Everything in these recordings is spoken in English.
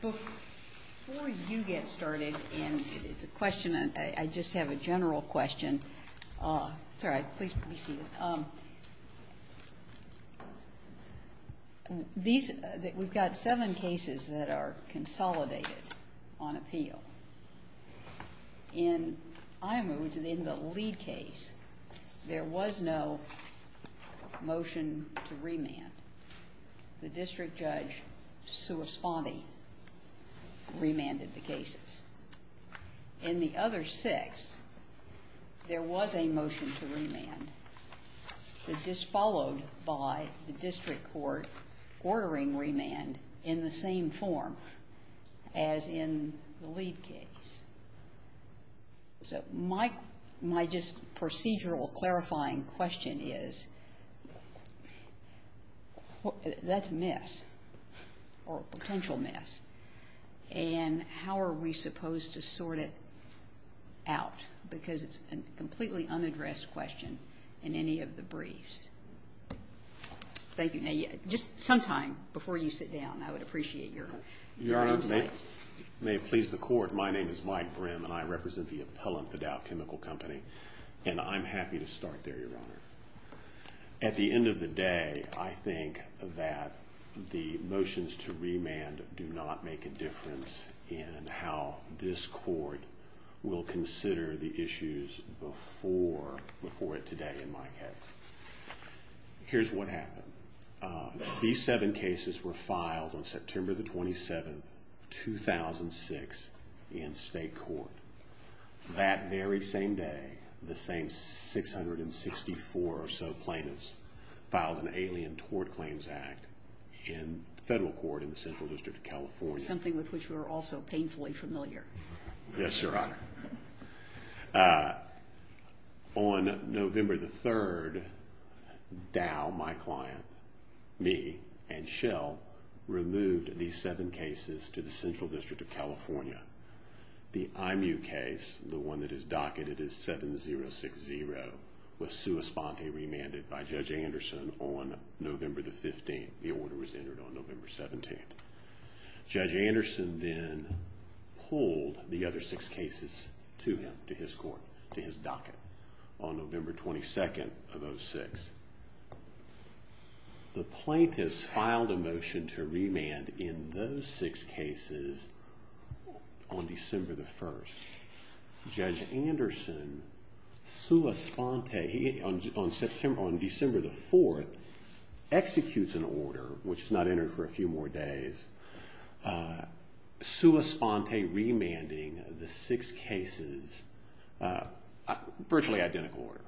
Before you get started, I just have a general question. We've got seven cases that are consolidated on appeal. In Ayemou, in the lead case, there was no motion to remand. The district judge sui sponte remanded the cases. In the other six, there was a motion to remand that was followed by the district court ordering remand in the same form as in the lead case. So my procedural clarifying question is, that's a potential mess, and how are we supposed to sort it out? Because it's a completely unaddressed question in any of the briefs. Thank you. Now, just sometime before you sit down, I would appreciate your insights. Your Honor, may it please the Court, my name is Mike Brim, and I represent the appellant at Dow Chemical Company, and I'm happy to start there, Your Honor. At the end of the will consider the issues before it today, in my case. Here's what happened. These seven cases were filed on September the 27th, 2006, in state court. That very same day, the same 664 or so plaintiffs filed an Alien Tort Claims Act in federal court in the Central District of California. Something with which we're also painfully familiar. Yes, Your Honor. On November the 3rd, Dow, my client, me, and Shell removed these seven cases to the Central District of California. The IMU case, the one that is docketed as 7060, was sui sponte remanded by Judge Anderson on November the 15th. The order was entered on November 17th. Judge Anderson then pulled the other six cases to him, to his court, to his docket, on November 22nd of 2006. The plaintiffs filed a motion to remand in those six cases on December the 1st. Judge Anderson, sui sponte, on December the 4th, executes an order, which is not entered for a few more days, sui sponte remanding the six cases, virtually identical order.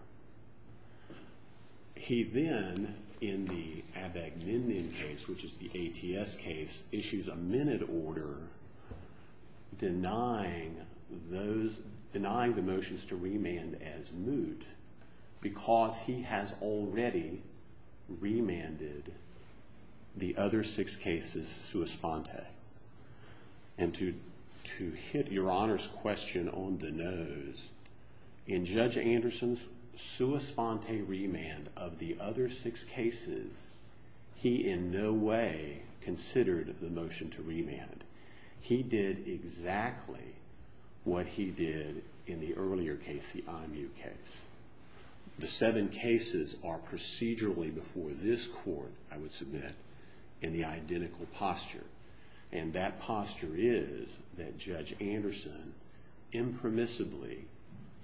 He then, in the Abagninian case, which is the ATS case, issues a minute order denying those, denying the motions to remand as moot because he has already remanded the other six cases sui sponte. To hit Your Honor's question on the nose, in Judge Anderson's sui sponte remand of the other six cases, he in no way considered the motion to remand. He did exactly what he did in the earlier case, the IMU case. The seven cases are procedurally before this court, I would submit, in the identical posture. And that posture is that Judge Anderson impermissibly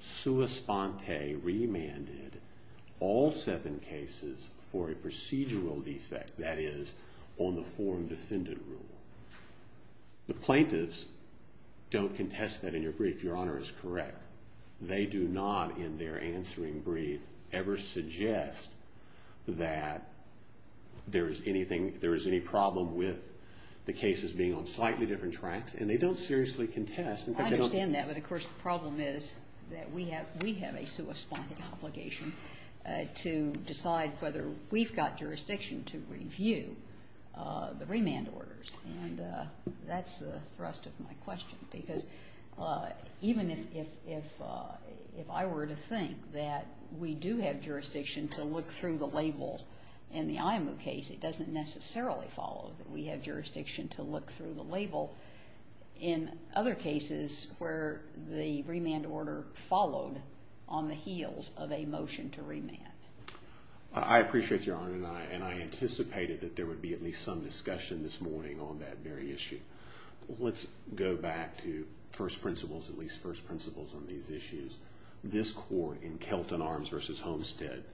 sui sponte remanded all seven cases for a procedural defect, that is, on the form defended rule. The plaintiffs don't contest that in your brief, Your Honor is correct. They do not, in their answering brief, ever suggest that there is anything, there is any problem with the cases being on slightly different tracks, and they don't seriously contest. I understand that, but of course the problem is that we have a sui sponte obligation to decide whether we've got jurisdiction to review the remand orders. And that's the thrust of my question, because even if I were to think that we do have jurisdiction to look through the label in the IMU case, it doesn't necessarily follow that we have jurisdiction to look through the label in other cases where the remand order followed on the heels of a motion to remand. I appreciate Your Honor, and I anticipated that there would be at least some discussion this morning on that very issue. Let's go back to first principles, at least first principles on these issues. This court in Kelton Arms v. Homestead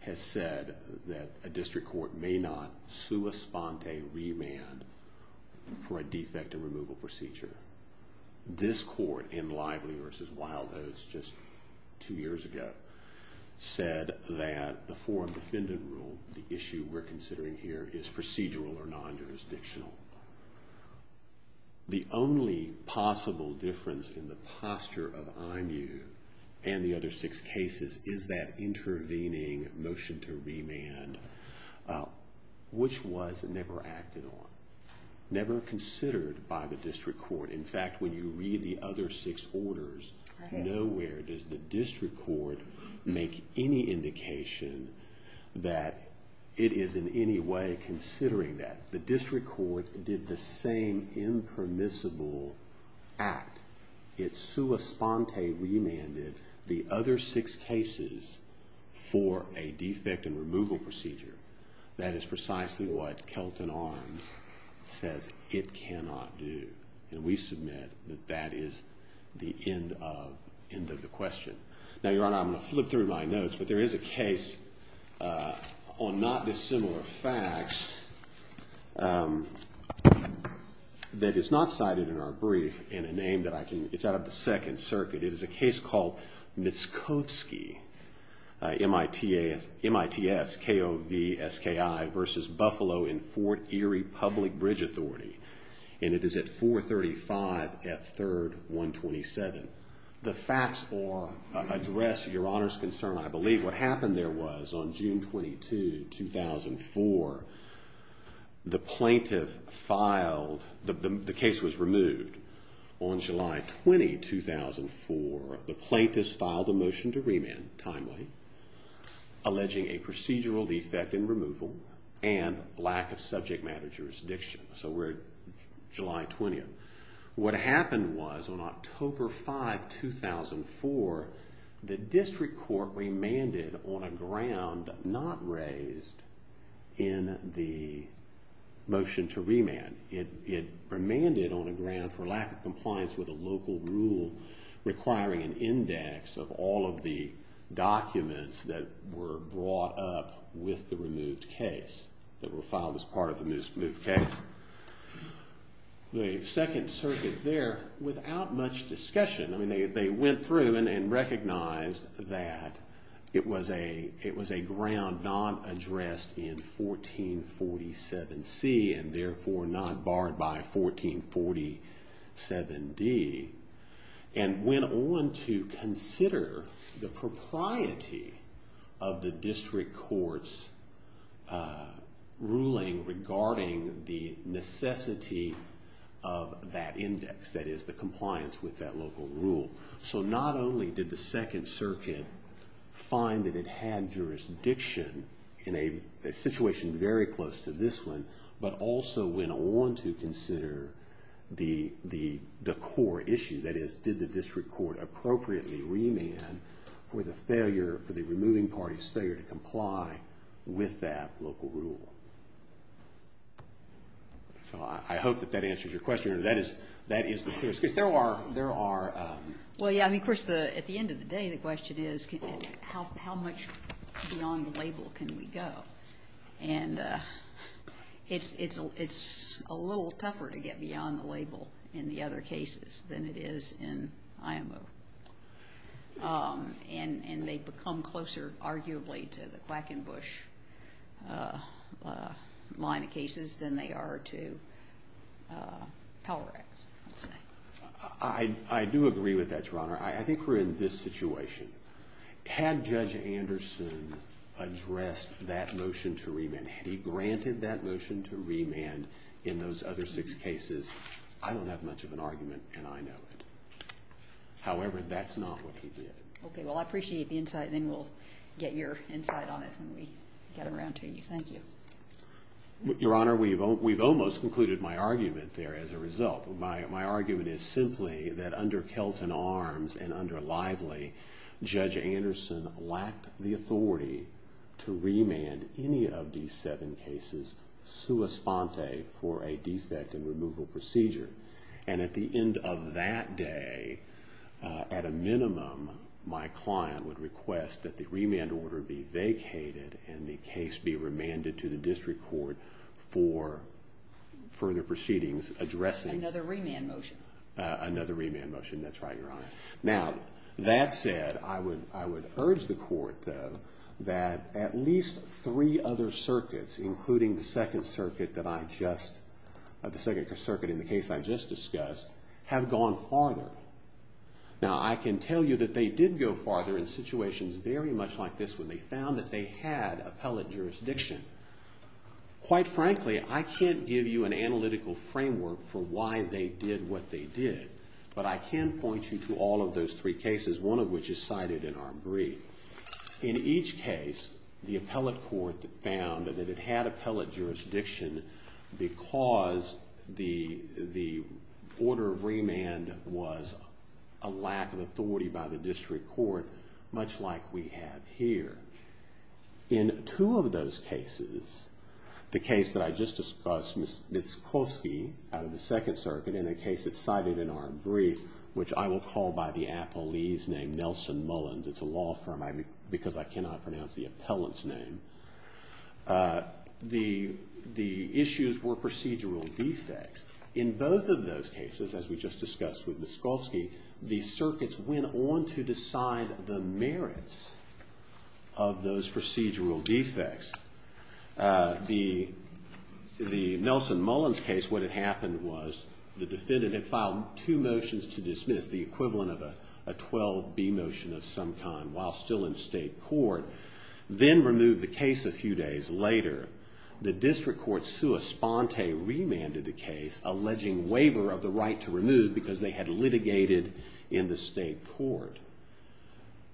has said that a district court may not sui sponte remand for a defective removal procedure. This court in Lively v. Wildoves just two years ago said that the form defended rule, the issue we're considering here, is procedural or non-jurisdictional. The only possible difference in the posture of IMU and the other six cases is that intervening motion to remand, which was never acted on, never considered by the district court. In fact, when you read the it is in any way considering that. The district court did the same impermissible act. It sui sponte remanded the other six cases for a defective removal procedure. That is precisely what Kelton Arms says it cannot do. And we submit that that is the end of the question. Now, Your Honor, I'm going to flip through my notes. But there is a case on not dissimilar facts that is not cited in our brief in a name that I can, it's out of the Second Circuit. It is a case called Mitskovsky, MITSKOVSKI v. Buffalo in Fort Erie Public Bridge Authority. And it is at 435 F. 3rd, 127. The facts address Your Honor's concern, I believe. What happened there was on June 22, 2004, the plaintiff filed, the case was removed on July 20, 2004. The plaintiff filed a motion to remand timely, alleging a procedural defect in removal and lack of subject matter jurisdiction. So we're at July 20th. What happened was on October 5, 2004, the district court remanded on a ground not raised in the motion to remand. It remanded on a ground for lack of compliance with a local rule requiring an index of all of the documents that were brought up with the removed case, that were filed as part of the removed case. The Second Circuit there, without much discussion, I mean, they went through and recognized that it was a ground not addressed in 1447C and therefore not barred by 1447D, and went on to consider the propriety of the district court's ruling regarding the necessity of that index, that is, the compliance with that local rule. So not only did the Second Circuit find that it had jurisdiction in a situation very close to this one, but also went on to consider the core issue, that is, did the district court appropriately remand for the removing party's failure to comply with that local rule. So I hope that that answers your question, or that is the clear excuse. There are... Well, yeah, I mean, of course, at the end of the day, the question is, how much beyond the label can we go? And it's a little tougher to get beyond the label in the other cases than it is in IMO. And they've become closer, arguably, to the Quackenbush line of cases than they are to Power Act's, let's say. I do agree with that, Your Honor. I think we're in this situation. Had Judge Anderson addressed that motion to remand, had he granted that motion to remand in those other six cases, I don't have much of an argument, and I know it. However, that's not what he did. Okay, well, I appreciate the insight, and then we'll get your insight on it when we get around to you. Thank you. Your Honor, we've almost concluded my argument there as a result. My argument is simply that under Kelton Arms and under Lively, Judge Anderson lacked the authority to remand any of these seven cases sua sponte for a defect in removal procedure. And at the end of that day, at a minimum, my client would request that the remand order be vacated and the case be remanded to the district court for further proceedings addressing... Another remand motion. Another remand motion. That's right, Your Honor. Now, that said, I would urge the court, though, that at least three other circuits, including the Second Circuit that I just, the Second Circuit in the case I just discussed, have gone farther. Now, I can tell you that they did go farther in situations very much like this when they found that they had appellate jurisdiction. Quite frankly, I can't give you an analytical framework for why they did what they did, but I can point you to all of those three cases, one of which is cited in our brief. In each case, the appellate court found that it had appellate jurisdiction because the order of remand was a lack of authority by the district court, much like we have here. In two of those cases, the case that I just discussed, Mitskovsky out of the Second Circuit, in a case that's cited in our brief, which I will call by the appellee's name, Nelson Mullins. It's a law firm because I cannot pronounce the appellant's name. The issues were procedural defects. In both of those cases, as we just discussed with Mitskovsky, the circuits went on to decide the merits of those procedural defects. The Nelson Mullins case, what had happened was the defendant had filed two motions to dismiss, the equivalent of a 12B motion of some kind, while still in state court, then removed the case a few days later. The district court, sua sponte, remanded the case, alleging waiver of the right to remove because they had litigated in the state court.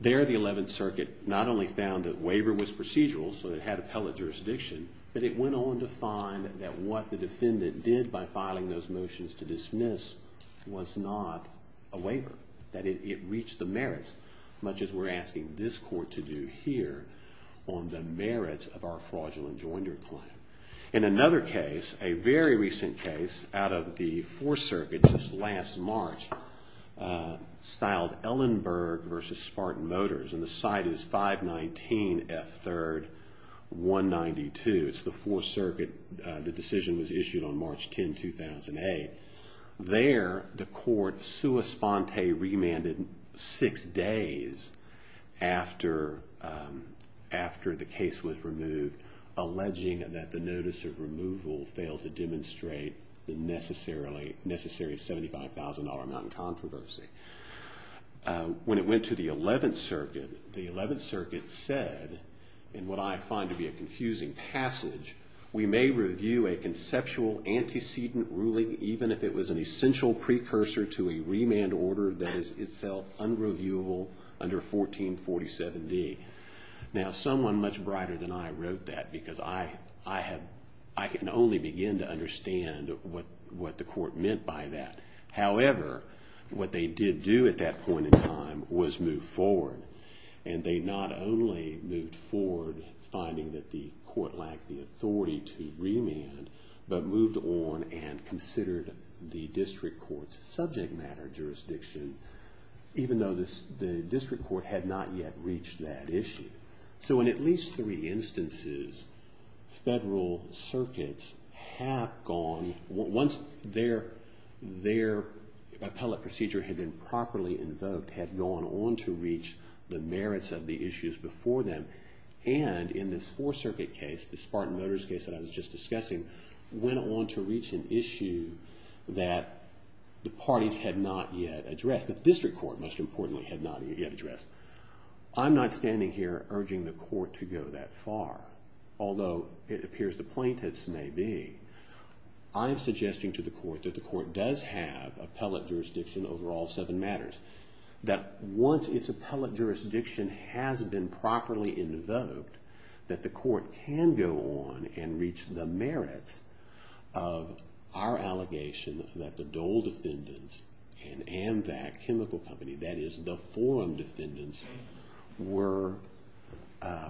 There, the Eleventh Circuit not only found that waiver was procedural, so it had appellate jurisdiction, but it went on to find that what the defendant did by filing those motions to dismiss was not a waiver, that it reached the merits, much as we're asking this court to do here on the merits of our fraudulent joinder claim. In another case, a very recent case out of the Fourth Circuit, just last March, styled Ellenberg v. Spartan Motors, and the site is 519 F. 3rd, 192. It's the Fourth Circuit. The decision was issued on March 10, 2008. There, the court, sua sponte, remanded six days after the case was removed, alleging that the notice of removal failed to demonstrate the necessary $75,000 amount of controversy. When it went to the Eleventh Circuit, the Eleventh Circuit said, in what I find to be a confusing passage, we may review a conceptual antecedent ruling even if it was an essential precursor to a remand order that is itself unreviewable under 1447D. Now, someone much brighter than I wrote that because I can only begin to understand what the court meant by that. However, what they did do at that point in time was move forward, and they not only moved forward finding that the court lacked the authority to remand, but moved on and considered the district court's subject matter jurisdiction, even though the district court had not yet reached that issue. So in at least three instances, federal circuits have gone, once their appellate procedure had been properly invoked, had gone on to reach the merits of the issues before them, and in this Fourth Circuit case, the Spartan Motors case that I was just discussing, went on to reach an issue that the parties had not yet addressed, that the district court, most importantly, had not yet addressed. I'm not standing here urging the court to go that far, although it appears the plaintiffs may be. I'm suggesting to the court that the court does have appellate jurisdiction over all seven matters, that once its appellate jurisdiction has been properly invoked, that the court can go on and reach the merits of our allegation that the Dole defendants and Amvac Chemical Company, that is the forum defendants, were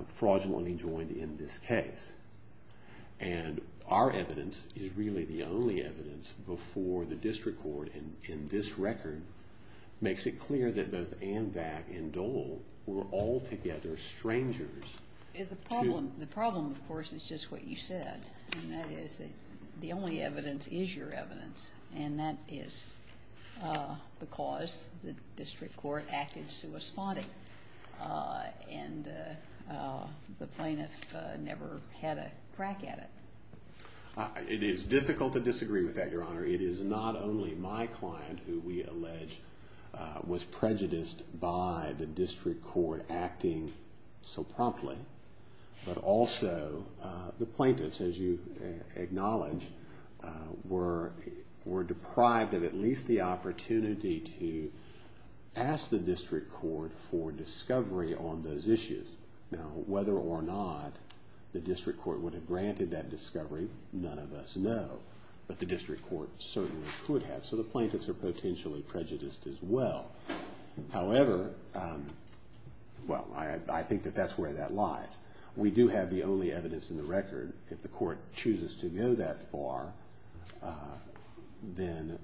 fraudulently joined in this case. And our evidence is really the only evidence before the district court in this record makes it clear that both Amvac and Dole were altogether strangers. The problem, of course, is just what you said, and that is that the only evidence is your evidence, and that is because the district court acted suesponding, and the plaintiff never had a crack at it. It is difficult to disagree with that, Your Honor. It is not only my client who we allege was prejudiced by the district court acting so promptly, but also the plaintiffs, as you acknowledge, were deprived of at least the opportunity to ask the district court for that discovery. None of us know, but the district court certainly could have, so the plaintiffs are potentially prejudiced as well. However, well, I think that that is where that lies. We do have the only evidence in the record. If the court chooses to go that far, then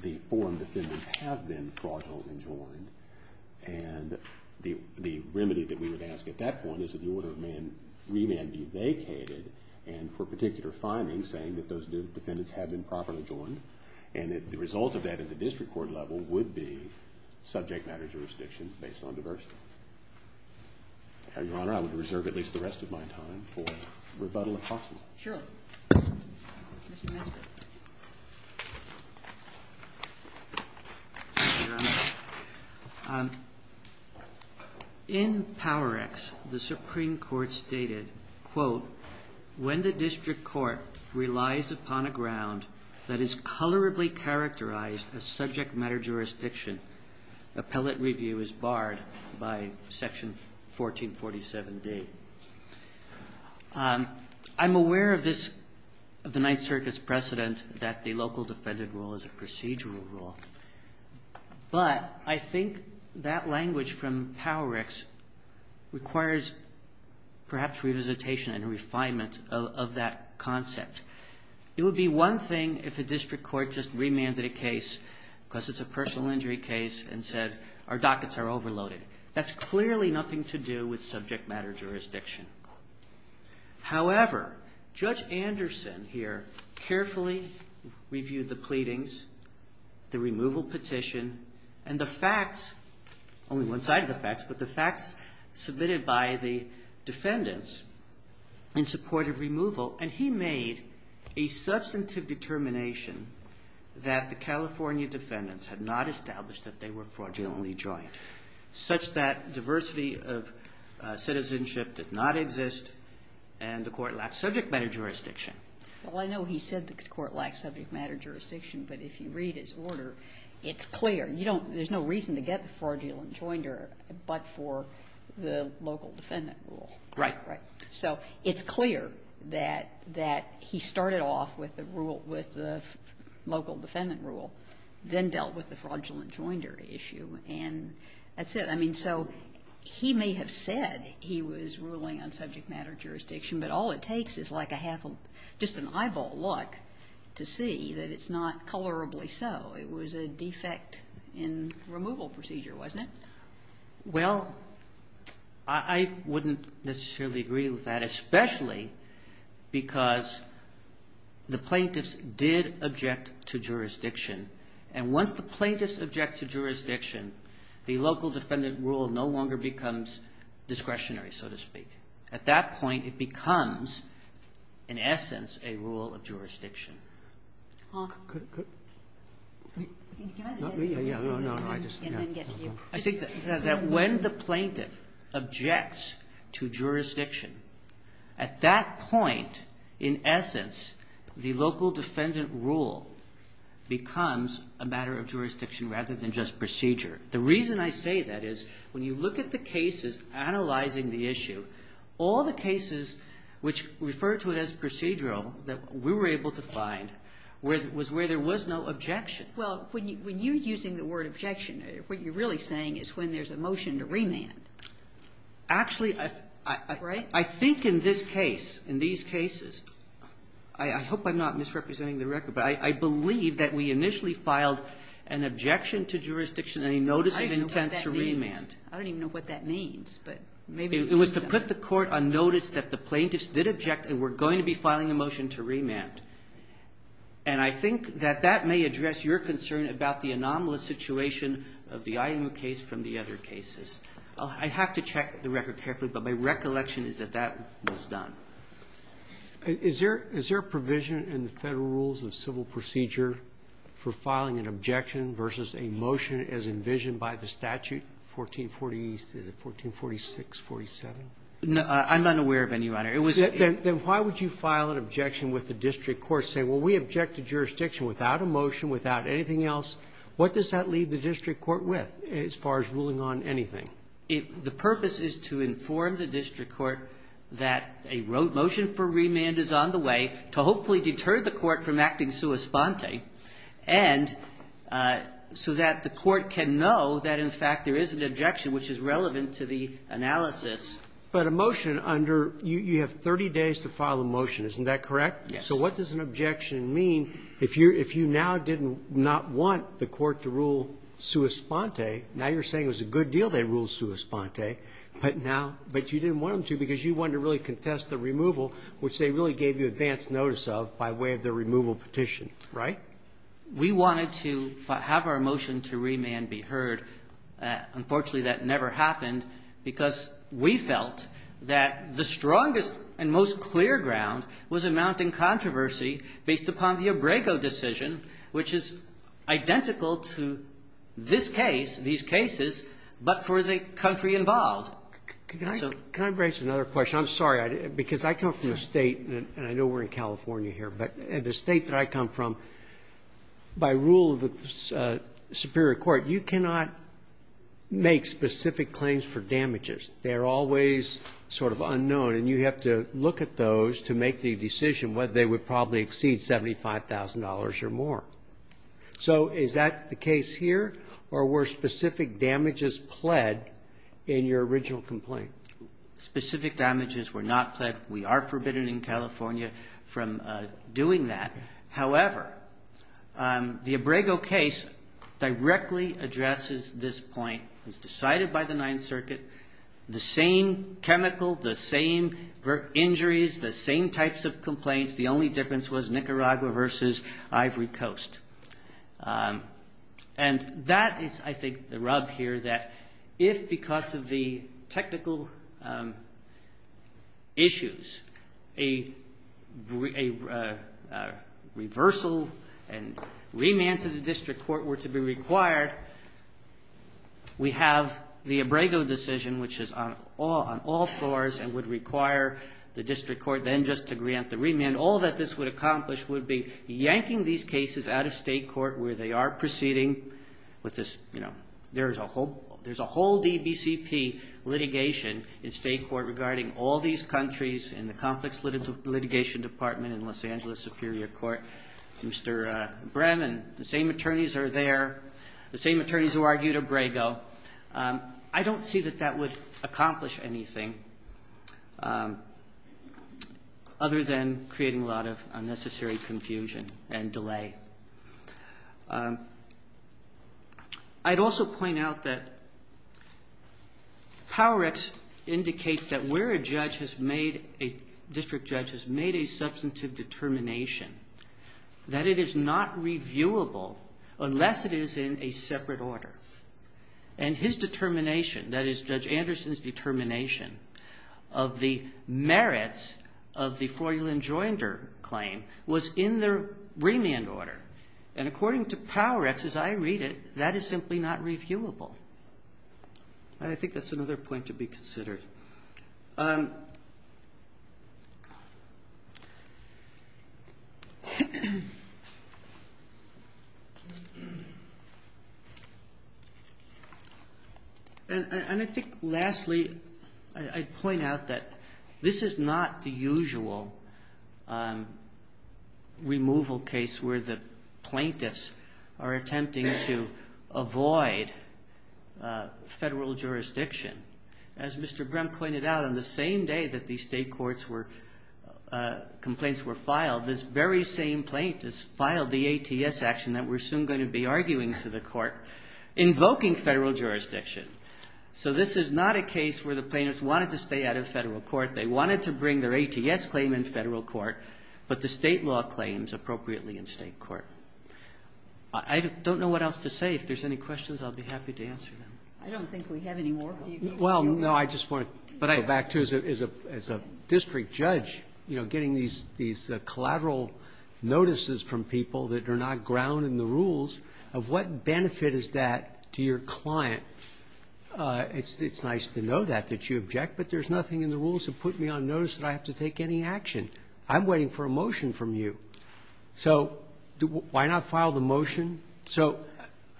the forum defendants have been fraudulently joined, and the remedy that we would ask at that point is that the order of remand be vacated, and for particular findings, saying that those defendants have been properly joined, and that the result of that at the district court level would be subject matter jurisdiction based on diversity. Your Honor, I would reserve at least the rest of my time for rebuttal, if possible. Kagan. Shirley. Mr. Maskell. Your Honor, in Power-X, the Supreme Court stated, quote, when the district court relies upon a ground that is colorably characterized as subject matter jurisdiction, appellate review is barred by Section 1447D. I'm aware of this, of the Ninth Circuit's precedent that the local defendant rule is a procedural rule, but I think that language from Power-X requires perhaps revisitation and refinement of that concept. It would be one thing if a district court just remanded a case because it's a personal injury case and said, our dockets are overloaded. That's clearly nothing to do with subject matter jurisdiction. However, Judge Anderson here carefully reviewed the pleadings, the removal petition, and the facts, only one side of the facts, but the facts submitted by the that the California defendants had not established that they were fraudulently joined, such that diversity of citizenship did not exist and the court lacked subject matter jurisdiction. Well, I know he said the court lacked subject matter jurisdiction, but if you read his order, it's clear. You don't – there's no reason to get the fraudulent joinder but for the local defendant rule. Right. Right. So it's clear that he started off with the rule – with the local defendant rule, then dealt with the fraudulent joinder issue, and that's it. I mean, so he may have said he was ruling on subject matter jurisdiction, but all it takes is like a half – just an eyeball look to see that it's not colorably so. It was a defect in removal procedure, wasn't it? Well, I wouldn't necessarily agree with that, especially because the plaintiffs did object to jurisdiction, and once the plaintiffs object to jurisdiction, the local defendant rule no longer becomes discretionary, so to speak. At that point, it becomes, in essence, a rule of jurisdiction. I think that when the plaintiff objects to jurisdiction, at that point, in essence, the local defendant rule becomes a matter of jurisdiction rather than just procedure. The reason I say that is when you look at the cases analyzing the issue, all the cases which refer to it as procedural that we were able to find was where there was no objection. Well, when you're using the word objection, what you're really saying is when there's a motion to remand. Actually, I think in this case, in these cases – I hope I'm not misrepresenting the record, but I believe that we initially filed an objection to jurisdiction and a notice of intent to remand. I don't even know what that means. It was to put the court on notice that the plaintiffs did object and were going to be filing a motion to remand. And I think that that may address your concern about the anomalous situation of the IMU case from the other cases. I have to check the record carefully, but my recollection is that that was done. Is there a provision in the Federal Rules of Civil Procedure for filing an objection versus a motion as envisioned by the statute, 1440 – is it 1446, 47? No. I'm unaware of any, Your Honor. Then why would you file an objection with the district court saying, well, we objected to jurisdiction without a motion, without anything else? What does that leave the district court with as far as ruling on anything? The purpose is to inform the district court that a motion for remand is on the way to hopefully deter the court from acting sua sponte and so that the court can know that, in fact, there is an objection which is relevant to the analysis. But a motion under – you have 30 days to file a motion, isn't that correct? Yes. So what does an objection mean if you now did not want the court to rule sua sponte? Now you're saying it was a good deal they ruled sua sponte, but now – but you didn't want them to because you wanted to really contest the removal, which they really gave you advance notice of by way of the removal petition, right? We wanted to have our motion to remand be heard. Unfortunately, that never happened because we felt that the strongest and most clear ground was amounting controversy based upon the Abrego decision, which is identical to this case, these cases, but for the country involved. Can I raise another question? I'm sorry, because I come from a state – and I know we're in California here – but the state that I come from, by rule of the superior court, you cannot make specific claims for damages. They're always sort of unknown, and you have to look at those to make the decision whether they would probably exceed $75,000 or more. So is that the case here, or were specific damages pled in your original complaint? Specific damages were not pled. We are forbidden in California from doing that. However, the Abrego case directly addresses this point. It was decided by the Ninth Circuit. The same chemical, the same injuries, the same types of complaints. The only difference was Nicaragua versus Ivory Coast. And that is, I think, the rub here that if, because of the technical issues, a reversal and remand to the district court were to be required, we have the Abrego decision, which is on all floors and would require the district court then just to grant the state court where they are proceeding with this. There's a whole DBCP litigation in state court regarding all these countries in the complex litigation department in Los Angeles Superior Court. Mr. Bremen, the same attorneys are there, the same attorneys who argued Abrego. I don't see that that would accomplish anything other than creating a lot of unnecessary confusion and delay. I'd also point out that PowerX indicates that where a judge has made, a district judge has made a substantive determination that it is not reviewable unless it is in a separate order. And his determination, that is, Judge Anderson's determination of the merits of the remand order. And according to PowerX, as I read it, that is simply not reviewable. And I think that's another point to be considered. And I think, lastly, I'd point out that this is not the usual kind of reviewable case where the plaintiffs are attempting to avoid federal jurisdiction. As Mr. Bremen pointed out, on the same day that these state courts were, complaints were filed, this very same plaintiffs filed the ATS action that we're soon going to be arguing to the court, invoking federal jurisdiction. So this is not a case where the plaintiffs wanted to stay out of federal court. They wanted to bring their ATS claim in federal court, but the state law claims appropriately in state court. I don't know what else to say. If there's any questions, I'll be happy to answer them. I don't think we have any more. Well, no, I just want to go back to, as a district judge, you know, getting these collateral notices from people that are not ground in the rules of what benefit is that to your client. It's nice to know that, that you object, but there's nothing in the rules to put me on notice that I have to take any action. I'm waiting for a motion from you. So why not file the motion? So,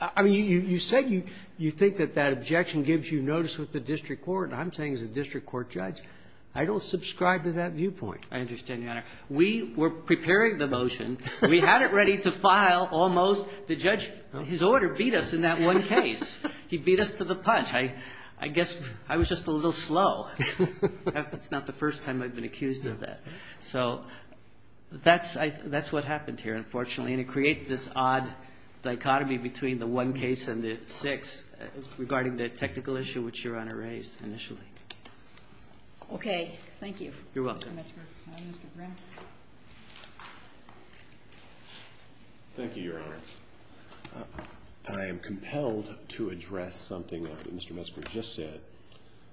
I mean, you said you think that that objection gives you notice with the district court, and I'm saying as a district court judge, I don't subscribe to that viewpoint. I understand, Your Honor. We were preparing the motion. We had it ready to file almost. The judge, his order beat us in that one case. He beat us to the punch. I guess I was just a little slow. That's not the first time I've been accused of that. So that's what happened here, unfortunately, and it creates this odd dichotomy between the one case and the six regarding the technical issue which Your Honor raised initially. Okay. Thank you. You're welcome. Thank you, Your Honor. I am compelled to address something that Mr. Metzger just said,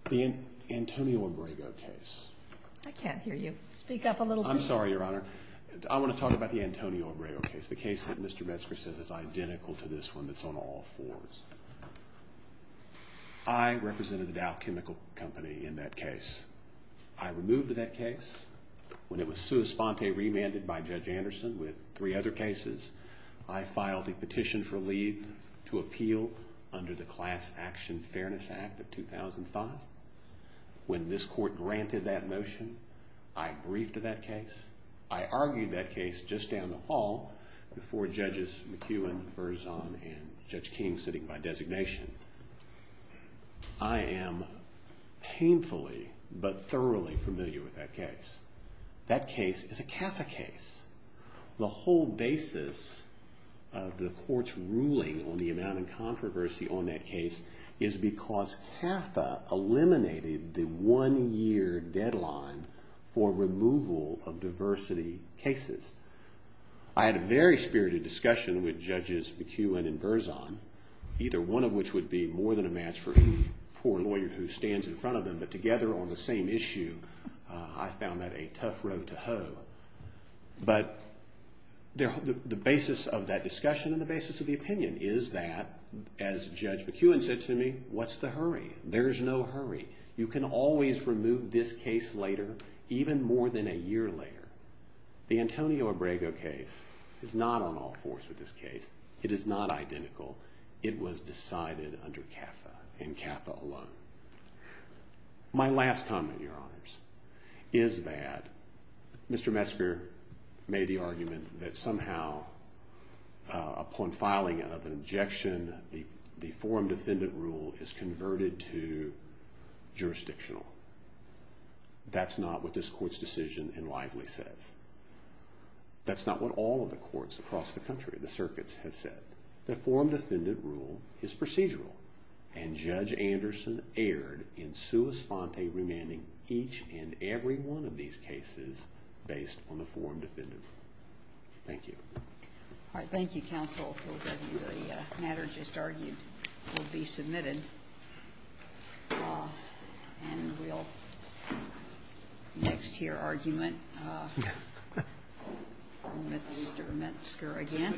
the Antonio Abrego case. I can't hear you. Speak up a little bit. I'm sorry, Your Honor. I want to talk about the Antonio Abrego case, the case that Mr. Metzger says is identical to this one that's on all fours. I represented the Dow Chemical Company in that case. I removed that case. When it was sua sponte remanded by Judge Anderson with three other cases, I filed a petition for leave to appeal under the Class Action Fairness Act of 2005. When this court granted that motion, I briefed that case. I argued that case just down the hall before Judges McEwen, Berzon, and Judge King sitting by designation. I am painfully but thoroughly familiar with that case. That case is a CAFA case. The whole basis of the court's ruling on the amount of controversy on that case is because CAFA eliminated the one-year deadline for removal of diversity cases. I had a very spirited discussion with Judges McEwen and Berzon, either one of which would be more than a match for the poor lawyer who stands in front of them, but together on the same issue, I found that a tough road to hoe. The basis of that discussion and the basis of the opinion is that, as Judge McEwen said to me, what's the hurry? There's no hurry. You can always remove this case later, even more than a year later. The Antonio Abrego case is not on all fours with this case. It is not identical. It was decided under CAFA and CAFA alone. My last comment, Your Honors, is that Mr. Metzger made the argument that somehow upon filing of an injection, the forum defendant rule is converted to jurisdictional. That's not what this Court's decision in Lively says. That's not what all of the courts across the country, the circuits, have said. The forum defendant rule is procedural, and Judge Anderson erred in sua sponte remanding each and every one of these cases based on the forum defendant rule. Thank you. All right, thank you, Counsel. The matter just argued will be submitted, and we'll next hear argument from Mr. Metzger again.